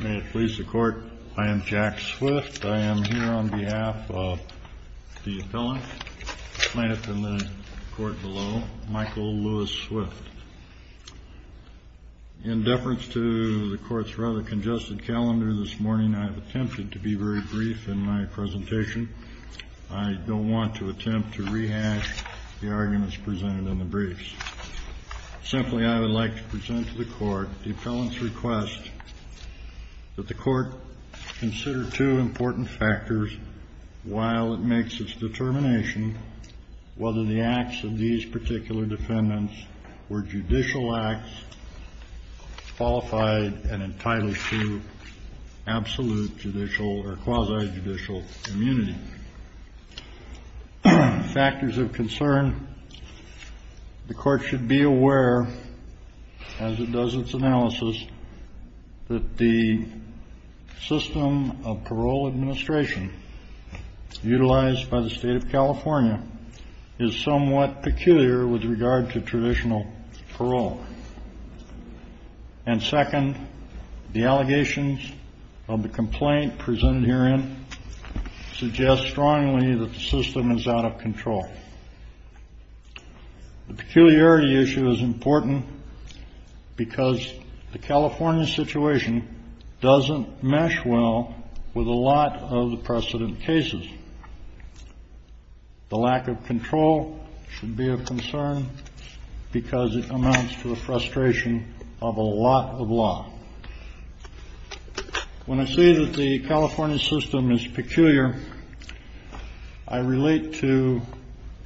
May it please the Court, I am Jack Swift. I am here on behalf of the appellant planted in the court below, Michael Lewis Swift. In deference to the Court's rather congested calendar this morning, I have attempted to be very brief in my presentation. I don't want to attempt to rehash the arguments presented in the briefs. Simply, I would like to present to the Court the appellant's request that the Court consider two important factors while it makes its determination whether the acts of these particular defendants were judicial acts qualified and entitled to absolute judicial or quasi-judicial immunity. Factors of concern, the Court should be aware, as it does its analysis, that the system of parole administration utilized by the State of California is somewhat peculiar with regard to traditional parole. And second, the allegations of the complaint presented herein suggest strongly that the system is out of control. The peculiarity issue is important because the California situation doesn't mesh well with a lot of the precedent cases. The lack of control should be of concern because it amounts to a frustration of a lot of law. When I say that the California system is peculiar, I relate to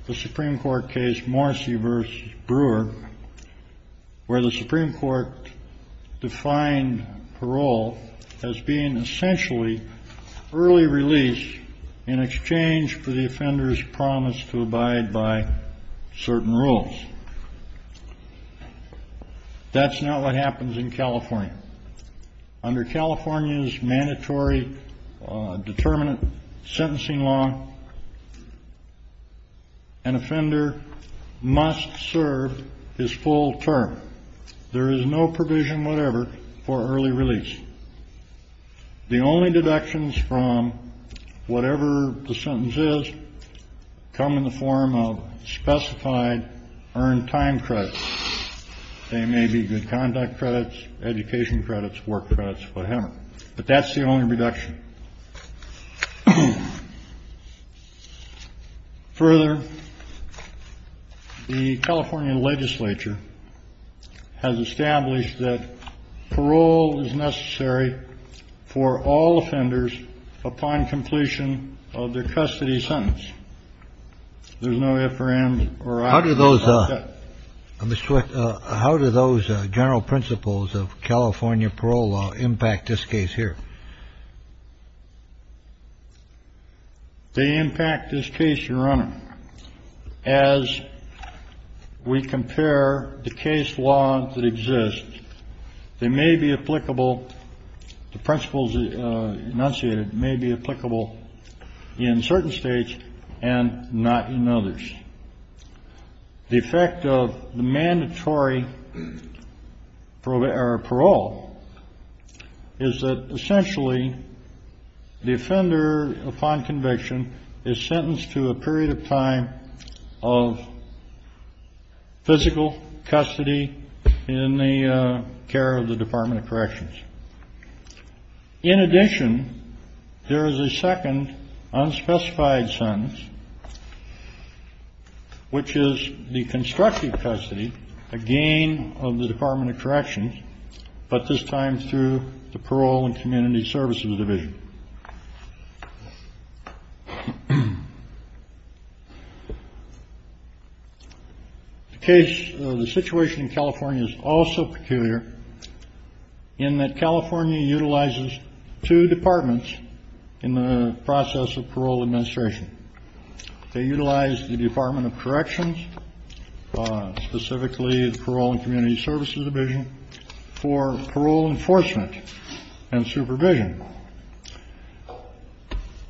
the Supreme Court case Morrissey v. Brewer, where the Supreme Court defined parole as being essentially early release in exchange for the offender's promise to abide by certain rules. That's not what happens in California. Under California's mandatory determinant sentencing law, an offender must serve his full term. There is no provision whatever for early release. The only deductions from whatever the sentence is come in the form of specified earned time credits. They may be good conduct credits, education credits, work credits, whatever. But that's the only reduction. Further, the California legislature has established that parole is necessary for all offenders upon completion of their custody sentence. There's no if, or and, or I. How do those how do those general principles of California parole impact this case here? They impact this case, Your Honor. As we compare the case law that exists, they may be applicable. The principles enunciated may be applicable in certain states and not in others. The effect of the mandatory parole is that essentially the offender upon conviction is sentenced to a period of time of physical custody in the care of the Department of Corrections. In addition, there is a second unspecified sentence. Which is the constructive custody again of the Department of Corrections, but this time through the parole and community services division. The case. The situation in California is also peculiar in that California utilizes two departments in the process of parole administration. They utilize the Department of Corrections, specifically the parole and community services division for parole enforcement and supervision.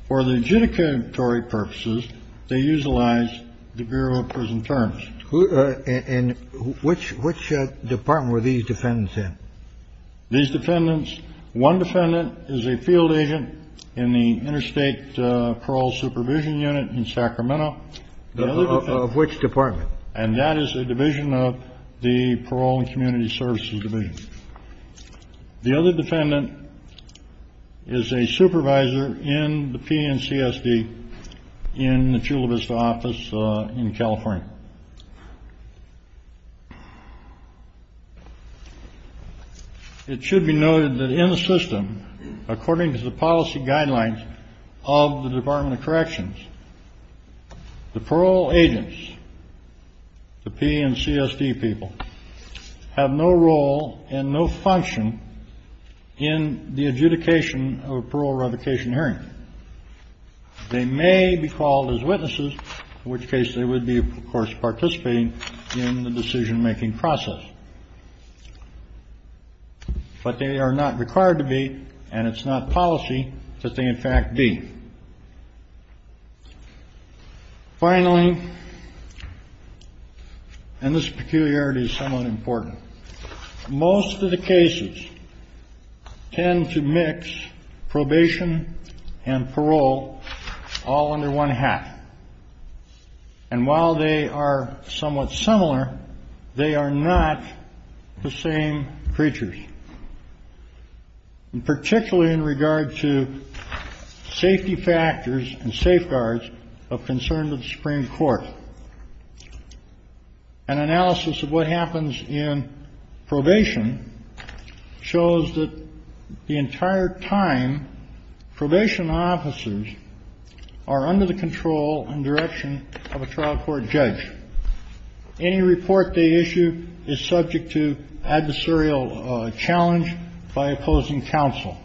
For the judicatory purposes, they utilize the Bureau of Prison Terms. And which which department were these defendants in? These defendants. One defendant is a field agent in the interstate parole supervision unit in Sacramento. Which department? And that is a division of the parole and community services division. The other defendant is a supervisor in the PNCSD in the Chula Vista office in California. It should be noted that in the system, according to the policy guidelines of the Department of Corrections. The parole agents. The PNCSD people have no role and no function in the adjudication of a parole revocation hearing. They may be called as witnesses, in which case they would be, of course, participating in the decision making process. But they are not required to be, and it's not policy that they in fact be. Finally. And this peculiarity is somewhat important. Most of the cases tend to mix probation and parole all under one half. And while they are somewhat similar, they are not the same creatures. And particularly in regard to safety factors and safeguards of concern to the Supreme Court. An analysis of what happens in probation shows that the entire time probation officers are under the control and direction of a trial court judge. Any report they issue is subject to adversarial challenge by opposing counsel.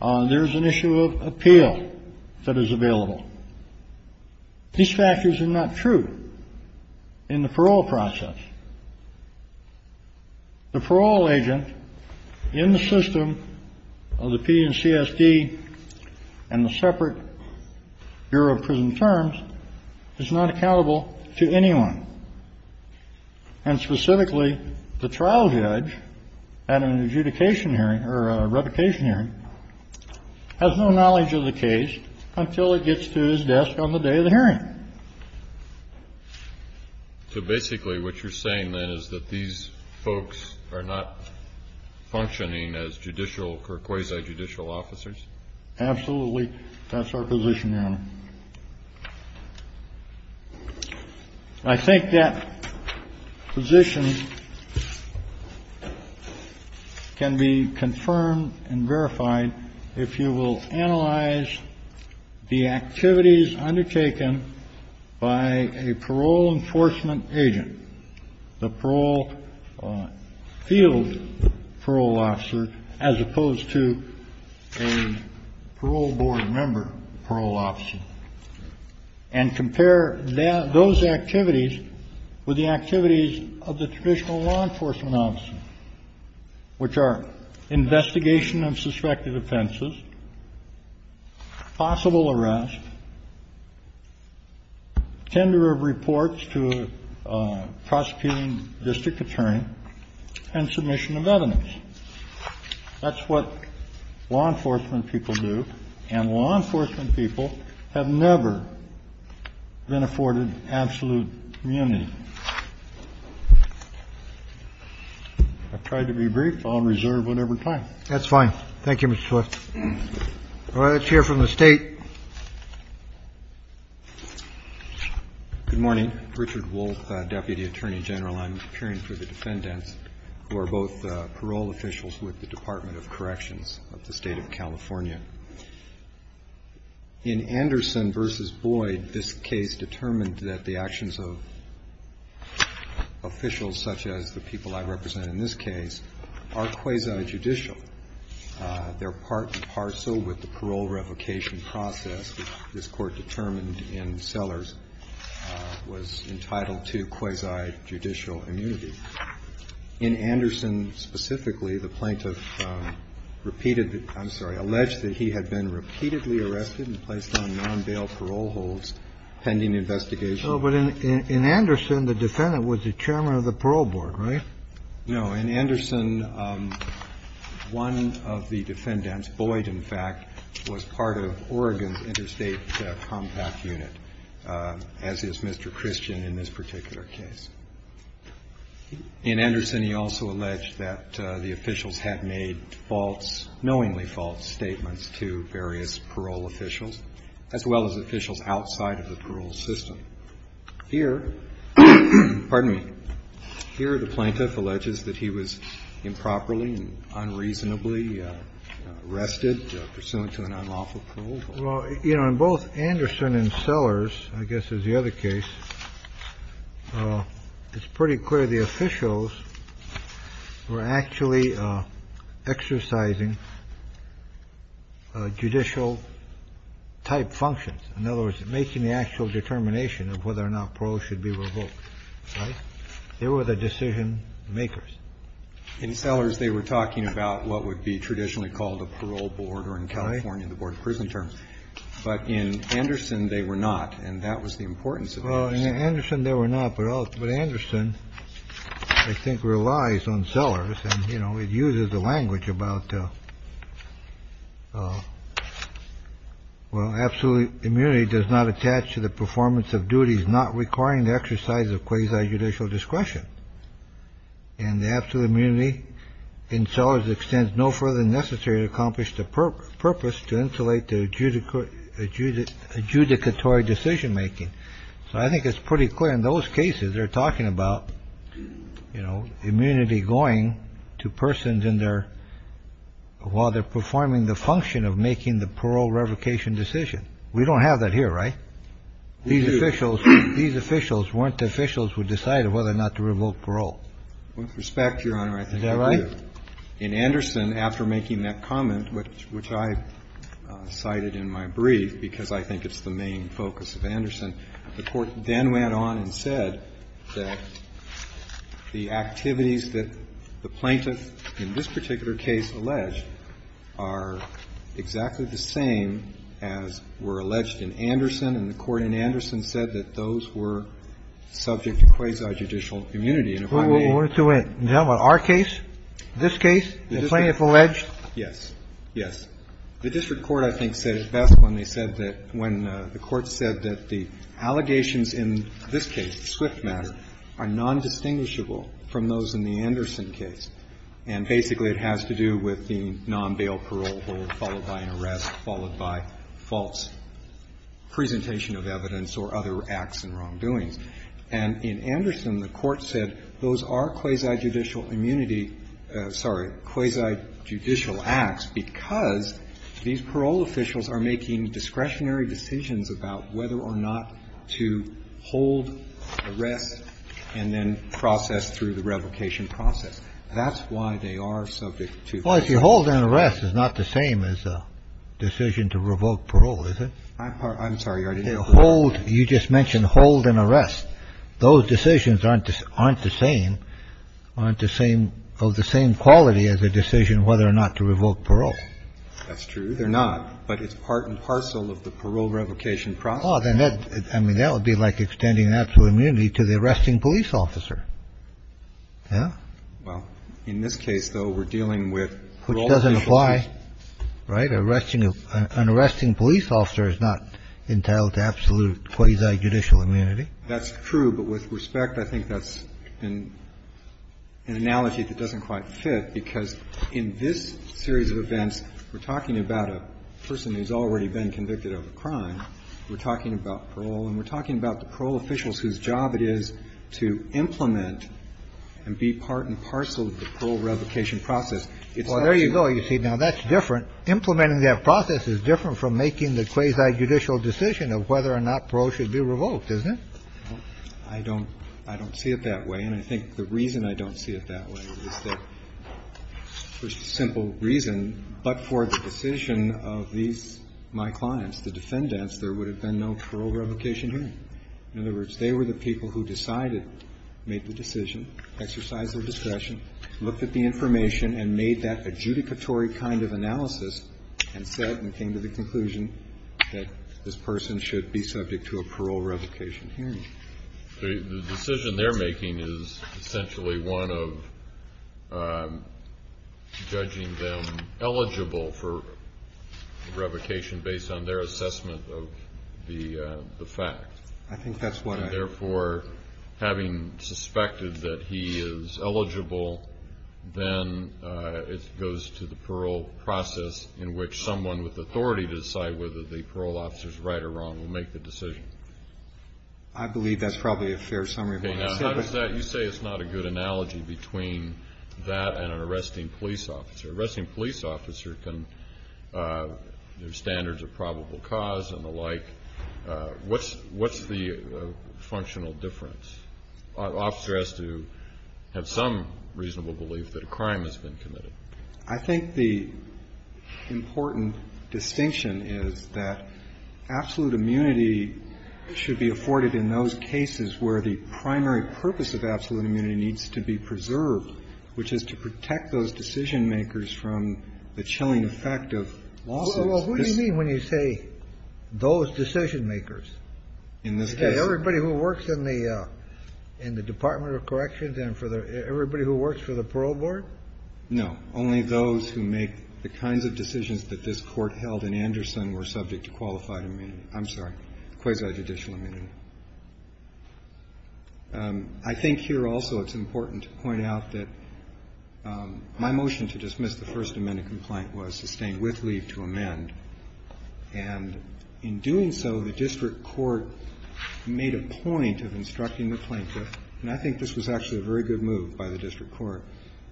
There is an issue of appeal that is available. These factors are not true in the parole process. The parole agent in the system of the PNCSD and the separate Bureau of Prison Terms is not accountable to anyone. And specifically, the trial judge at an adjudication hearing or a revocation hearing has no knowledge of the case until it gets to his desk on the day of the hearing. So basically what you're saying, then, is that these folks are not functioning as judicial or quasi-judicial officers? Absolutely. That's our position, Your Honor. And I think that position can be confirmed and verified if you will analyze the activities undertaken by a parole enforcement agent, the parole field parole officer, as opposed to a parole board member, parole officer, and compare those activities with the activities of the traditional law enforcement officer, which are investigation of suspected offenses, possible arrest, tender of reports to a prosecuting district attorney, and submission of evidence. That's what law enforcement people do, and law enforcement people have never been afforded absolute immunity. I've tried to be brief. I'll reserve whatever time. That's fine. Thank you, Mr. Swift. All right. Let's hear from the State. Good morning. I'm Richard Wolfe, Deputy Attorney General. I'm appearing for the defendants who are both parole officials with the Department of Corrections of the State of California. In Anderson v. Boyd, this case determined that the actions of officials such as the people I represent in this case are quasi-judicial. They're part and parcel with the parole revocation process, which this Court determined in Sellers was entitled to quasi-judicial immunity. In Anderson specifically, the plaintiff repeated the — I'm sorry, alleged that he had been repeatedly arrested and placed on non-bail parole holds pending investigation. No, but in Anderson, the defendant was the chairman of the parole board, right? No. In Anderson, one of the defendants, Boyd, in fact, was part of Oregon's interstate compact unit, as is Mr. Christian in this particular case. In Anderson, he also alleged that the officials had made false, knowingly false statements to various parole officials, as well as officials outside of the parole system. Here — pardon me. Here, the plaintiff alleges that he was improperly and unreasonably arrested, pursuant to an unlawful parole hold. Well, you know, in both Anderson and Sellers, I guess is the other case, it's pretty clear the officials were actually exercising judicial-type functions. In other words, making the actual determination of whether or not parole should be revoked. Right? They were the decision-makers. In Sellers, they were talking about what would be traditionally called a parole board in California, the board of prison terms. But in Anderson, they were not. And that was the importance of Anderson. Well, in Anderson, they were not. But Anderson, I think, relies on Sellers. And, you know, it uses the language about, well, absolute immunity does not attach to the performance of duties not requiring the exercise of quasi-judicial discretion. And the absolute immunity in Sellers extends no further than necessary to accomplish the purpose to insulate the adjudicatory decision-making. So I think it's pretty clear in those cases they're talking about, you know, immunity going to persons while they're performing the function of making the parole revocation decision. We don't have that here, right? We do. These officials weren't the officials who decided whether or not to revoke parole. With respect, Your Honor, I think I agree. Is that right? In Anderson, after making that comment, which I cited in my brief because I think it's the main focus of Anderson, the Court then went on and said that the activities that the plaintiff in this particular case alleged are exactly the same as were alleged in Anderson, and the Court in Anderson said that those were subject to quasi-judicial immunity. And if I may ---- We're to end. Now, in our case, this case, the plaintiff alleged ---- Yes. Yes. The district court, I think, said it best when they said that when the Court said that the allegations in this case, the Swift matter, are nondistinguishable from those in the Anderson case, and basically it has to do with the non-bail parole followed by an arrest, followed by false presentation of evidence or other acts and wrongdoings. And in Anderson, the Court said those are quasi-judicial immunity ---- sorry, quasi-judicial acts because these parole officials are making discretionary decisions about whether or not to hold arrest and then process through the revocation process. That's why they are subject to ---- Well, if you hold an arrest, it's not the same as a decision to revoke parole, is it? I'm sorry. Hold. You just mentioned hold and arrest. Those decisions aren't the same, aren't the same, of the same quality as a decision whether or not to revoke parole. That's true. They're not. But it's part and parcel of the parole revocation process. Oh, then that, I mean, that would be like extending absolute immunity to the arresting police officer. Yeah. Well, in this case, though, we're dealing with parole officials. Which doesn't apply, right? An arresting police officer is not entitled to absolute quasi-judicial immunity. That's true. But with respect, I think that's an analogy that doesn't quite fit because in this series of events, we're talking about a person who's already been convicted of a crime. We're talking about parole. And we're talking about the parole officials whose job it is to implement and be part and parcel of the parole revocation process. Well, there you go. You see, now, that's different. Implementing that process is different from making the quasi-judicial decision of whether or not parole should be revoked, isn't it? I don't see it that way. And I think the reason I don't see it that way is that for simple reason, but for the In other words, they were the people who decided, made the decision, exercised their discussion, looked at the information, and made that adjudicatory kind of analysis, and said and came to the conclusion that this person should be subject to a parole revocation hearing. The decision they're making is essentially one of judging them eligible for revocation based on their assessment of the fact. I think that's what I have. And therefore, having suspected that he is eligible, then it goes to the parole process in which someone with authority to decide whether the parole officer is right or wrong will make the decision. I believe that's probably a fair summary of what I said. Okay. Now, how does that you say it's not a good analogy between that and an arresting police officer? An arresting police officer can have standards of probable cause and the like. What's the functional difference? An officer has to have some reasonable belief that a crime has been committed. I think the important distinction is that absolute immunity should be afforded in those cases where the primary purpose of absolute immunity needs to be preserved, which is to protect those decision-makers from the chilling effect of lawsuits. Well, who do you mean when you say those decision-makers? In this case. Everybody who works in the Department of Corrections and everybody who works for the Parole Board? No. Only those who make the kinds of decisions that this Court held in Anderson were subject to qualified immunity. I'm sorry, quasi-judicial immunity. I think here also it's important to point out that my motion to dismiss the First Amendment complaint was sustained with leave to amend. And in doing so, the district court made a point of instructing the plaintiff and I think this was actually a very good move by the district court,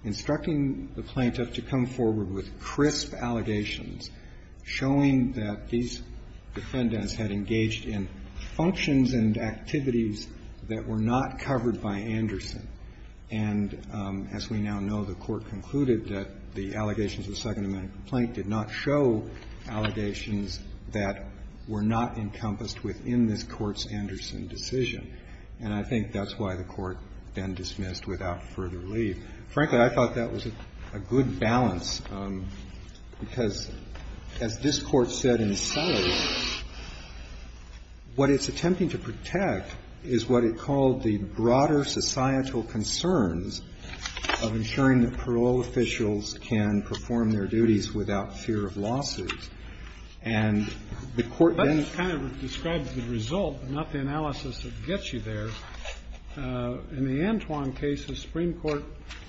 instructing the plaintiff to come forward with crisp allegations showing that these defendants had engaged in functions and activities that were not covered by Anderson. And as we now know, the Court concluded that the allegations of the Second Amendment complaint did not show allegations that were not encompassed within this Court's Anderson decision. And I think that's why the Court then dismissed without further leave. Frankly, I thought that was a good balance, because as this Court said in Sully, what it's attempting to protect is what it called the broader societal concerns of ensuring that parole officials can perform their duties without fear of losses. And the Court then ---- That just kind of describes the result, not the analysis that gets you there. In the Antoine case, the Supreme Court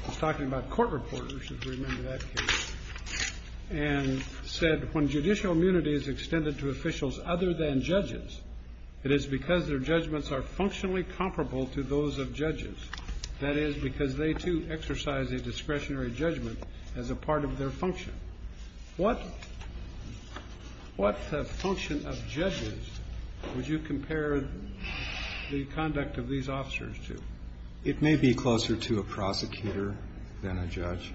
was talking about court reporters, if you remember that case, and said, when judicial immunity is extended to officials other than judges, it is because their judgments are functionally comparable to those of judges. That is, because they, too, exercise a discretionary judgment as a part of their function. What function of judges would you compare the conduct of these officers to? It may be closer to a prosecutor than a judge.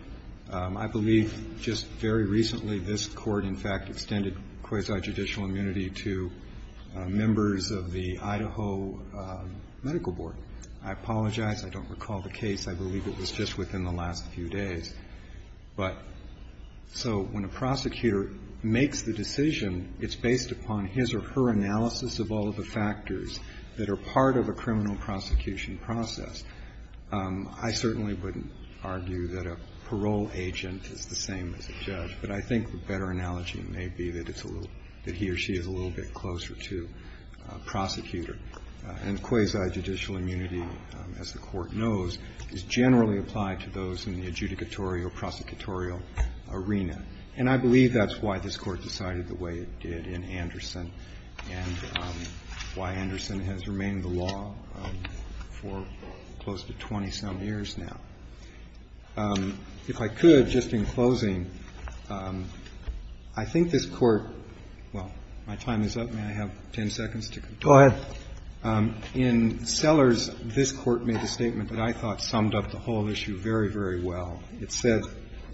I believe just very recently this Court, in fact, extended quasi-judicial immunity to members of the Idaho Medical Board. I apologize. I don't recall the case. I believe it was just within the last few days. But so when a prosecutor makes the decision, it's based upon his or her analysis of all of the factors that are part of a criminal prosecution process. I certainly wouldn't argue that a parole agent is the same as a judge, but I think a better analogy may be that it's a little ---- that he or she is a little bit closer to a prosecutor. And quasi-judicial immunity, as the Court knows, is generally applied to those in the adjudicatory or prosecutorial arena. And I believe that's why this Court decided the way it did in Anderson and why Anderson has remained the law for close to 20-some years now. If I could, just in closing, I think this Court ---- well, my time is up. May I have 10 seconds to conclude? In Sellers, this Court made a statement that I thought summed up the whole issue very, very well. It said,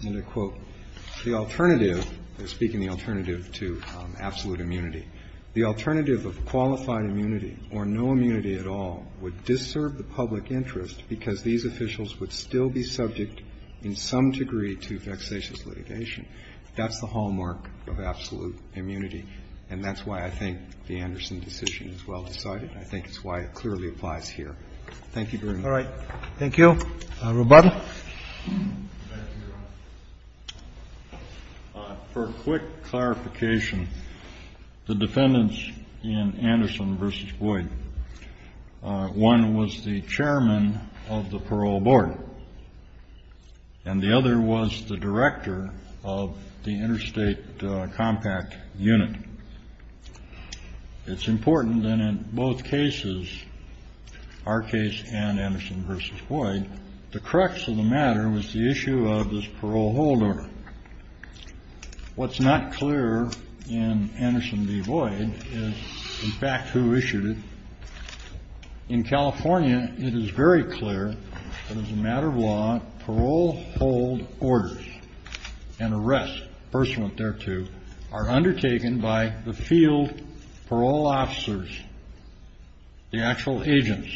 and I quote, ''The alternative'' ---- I'm speaking of the alternative to absolute immunity ''The alternative of qualified immunity or no immunity at all would disturb the public interest because these officials would still be subject in some degree to vexatious litigation.'' That's the hallmark of absolute immunity, and that's why I think the Anderson decision is well decided. I think it's why it clearly applies here. Thank you very much. All right. Thank you. Roboto. For a quick clarification, the defendants in Anderson v. Boyd, one was the chairman of the parole board, and the other was the director of the interstate compact unit. It's important that in both cases, our case and Anderson v. Boyd, the crux of the matter was the issue of this parole hold order. What's not clear in Anderson v. Boyd is, in fact, who issued it. In California, it is very clear that as a matter of law, parole hold orders and arrests pursuant thereto are undertaken by the field parole officers, the actual agents,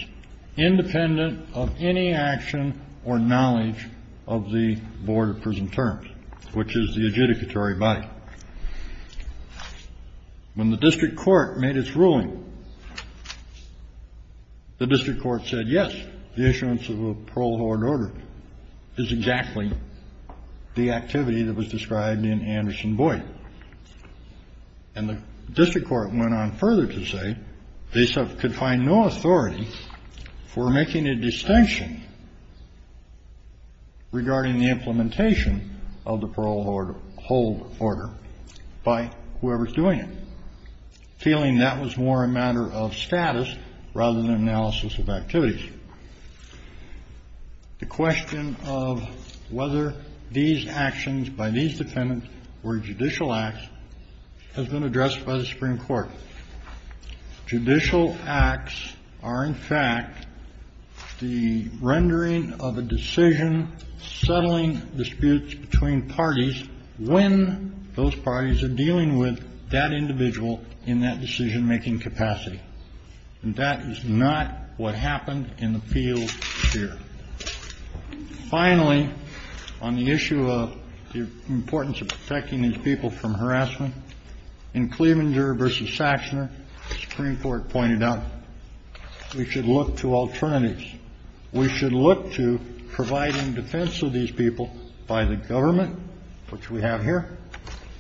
independent of any action or knowledge of the board of prison terms, which is the adjudicatory body. When the district court made its ruling, the district court said, ''Yes, the issuance of a parole hold order is exactly the activity that was described in Anderson v. Boyd.'' And the district court went on further to say they could find no authority for making a distinction regarding the implementation of the parole hold order by whoever is doing it, feeling that was more a matter of status rather than analysis of activities. The question of whether these actions by these defendants were judicial acts has been addressed by the Supreme Court. Judicial acts are, in fact, the rendering of a decision settling disputes between parties when those parties are dealing with that individual in that decision-making capacity. And that is not what happened in the field here. Finally, on the issue of the importance of protecting these people from harassment, in Clevenger v. Saxner, the Supreme Court pointed out we should look to alternatives. We should look to providing defense of these people by the government, which we have here,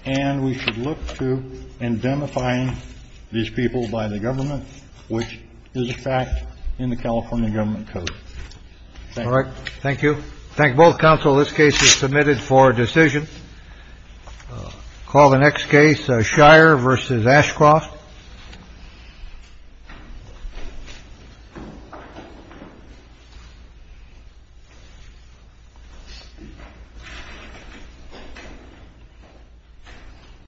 and we should look to indemnifying these people by the government, which is a fact in the California Government Code. Thank you. Thank you. Thank both counsel. This case is submitted for decision. Call the next case, Shire v. Ashcroft. Shire v. Ashcroft.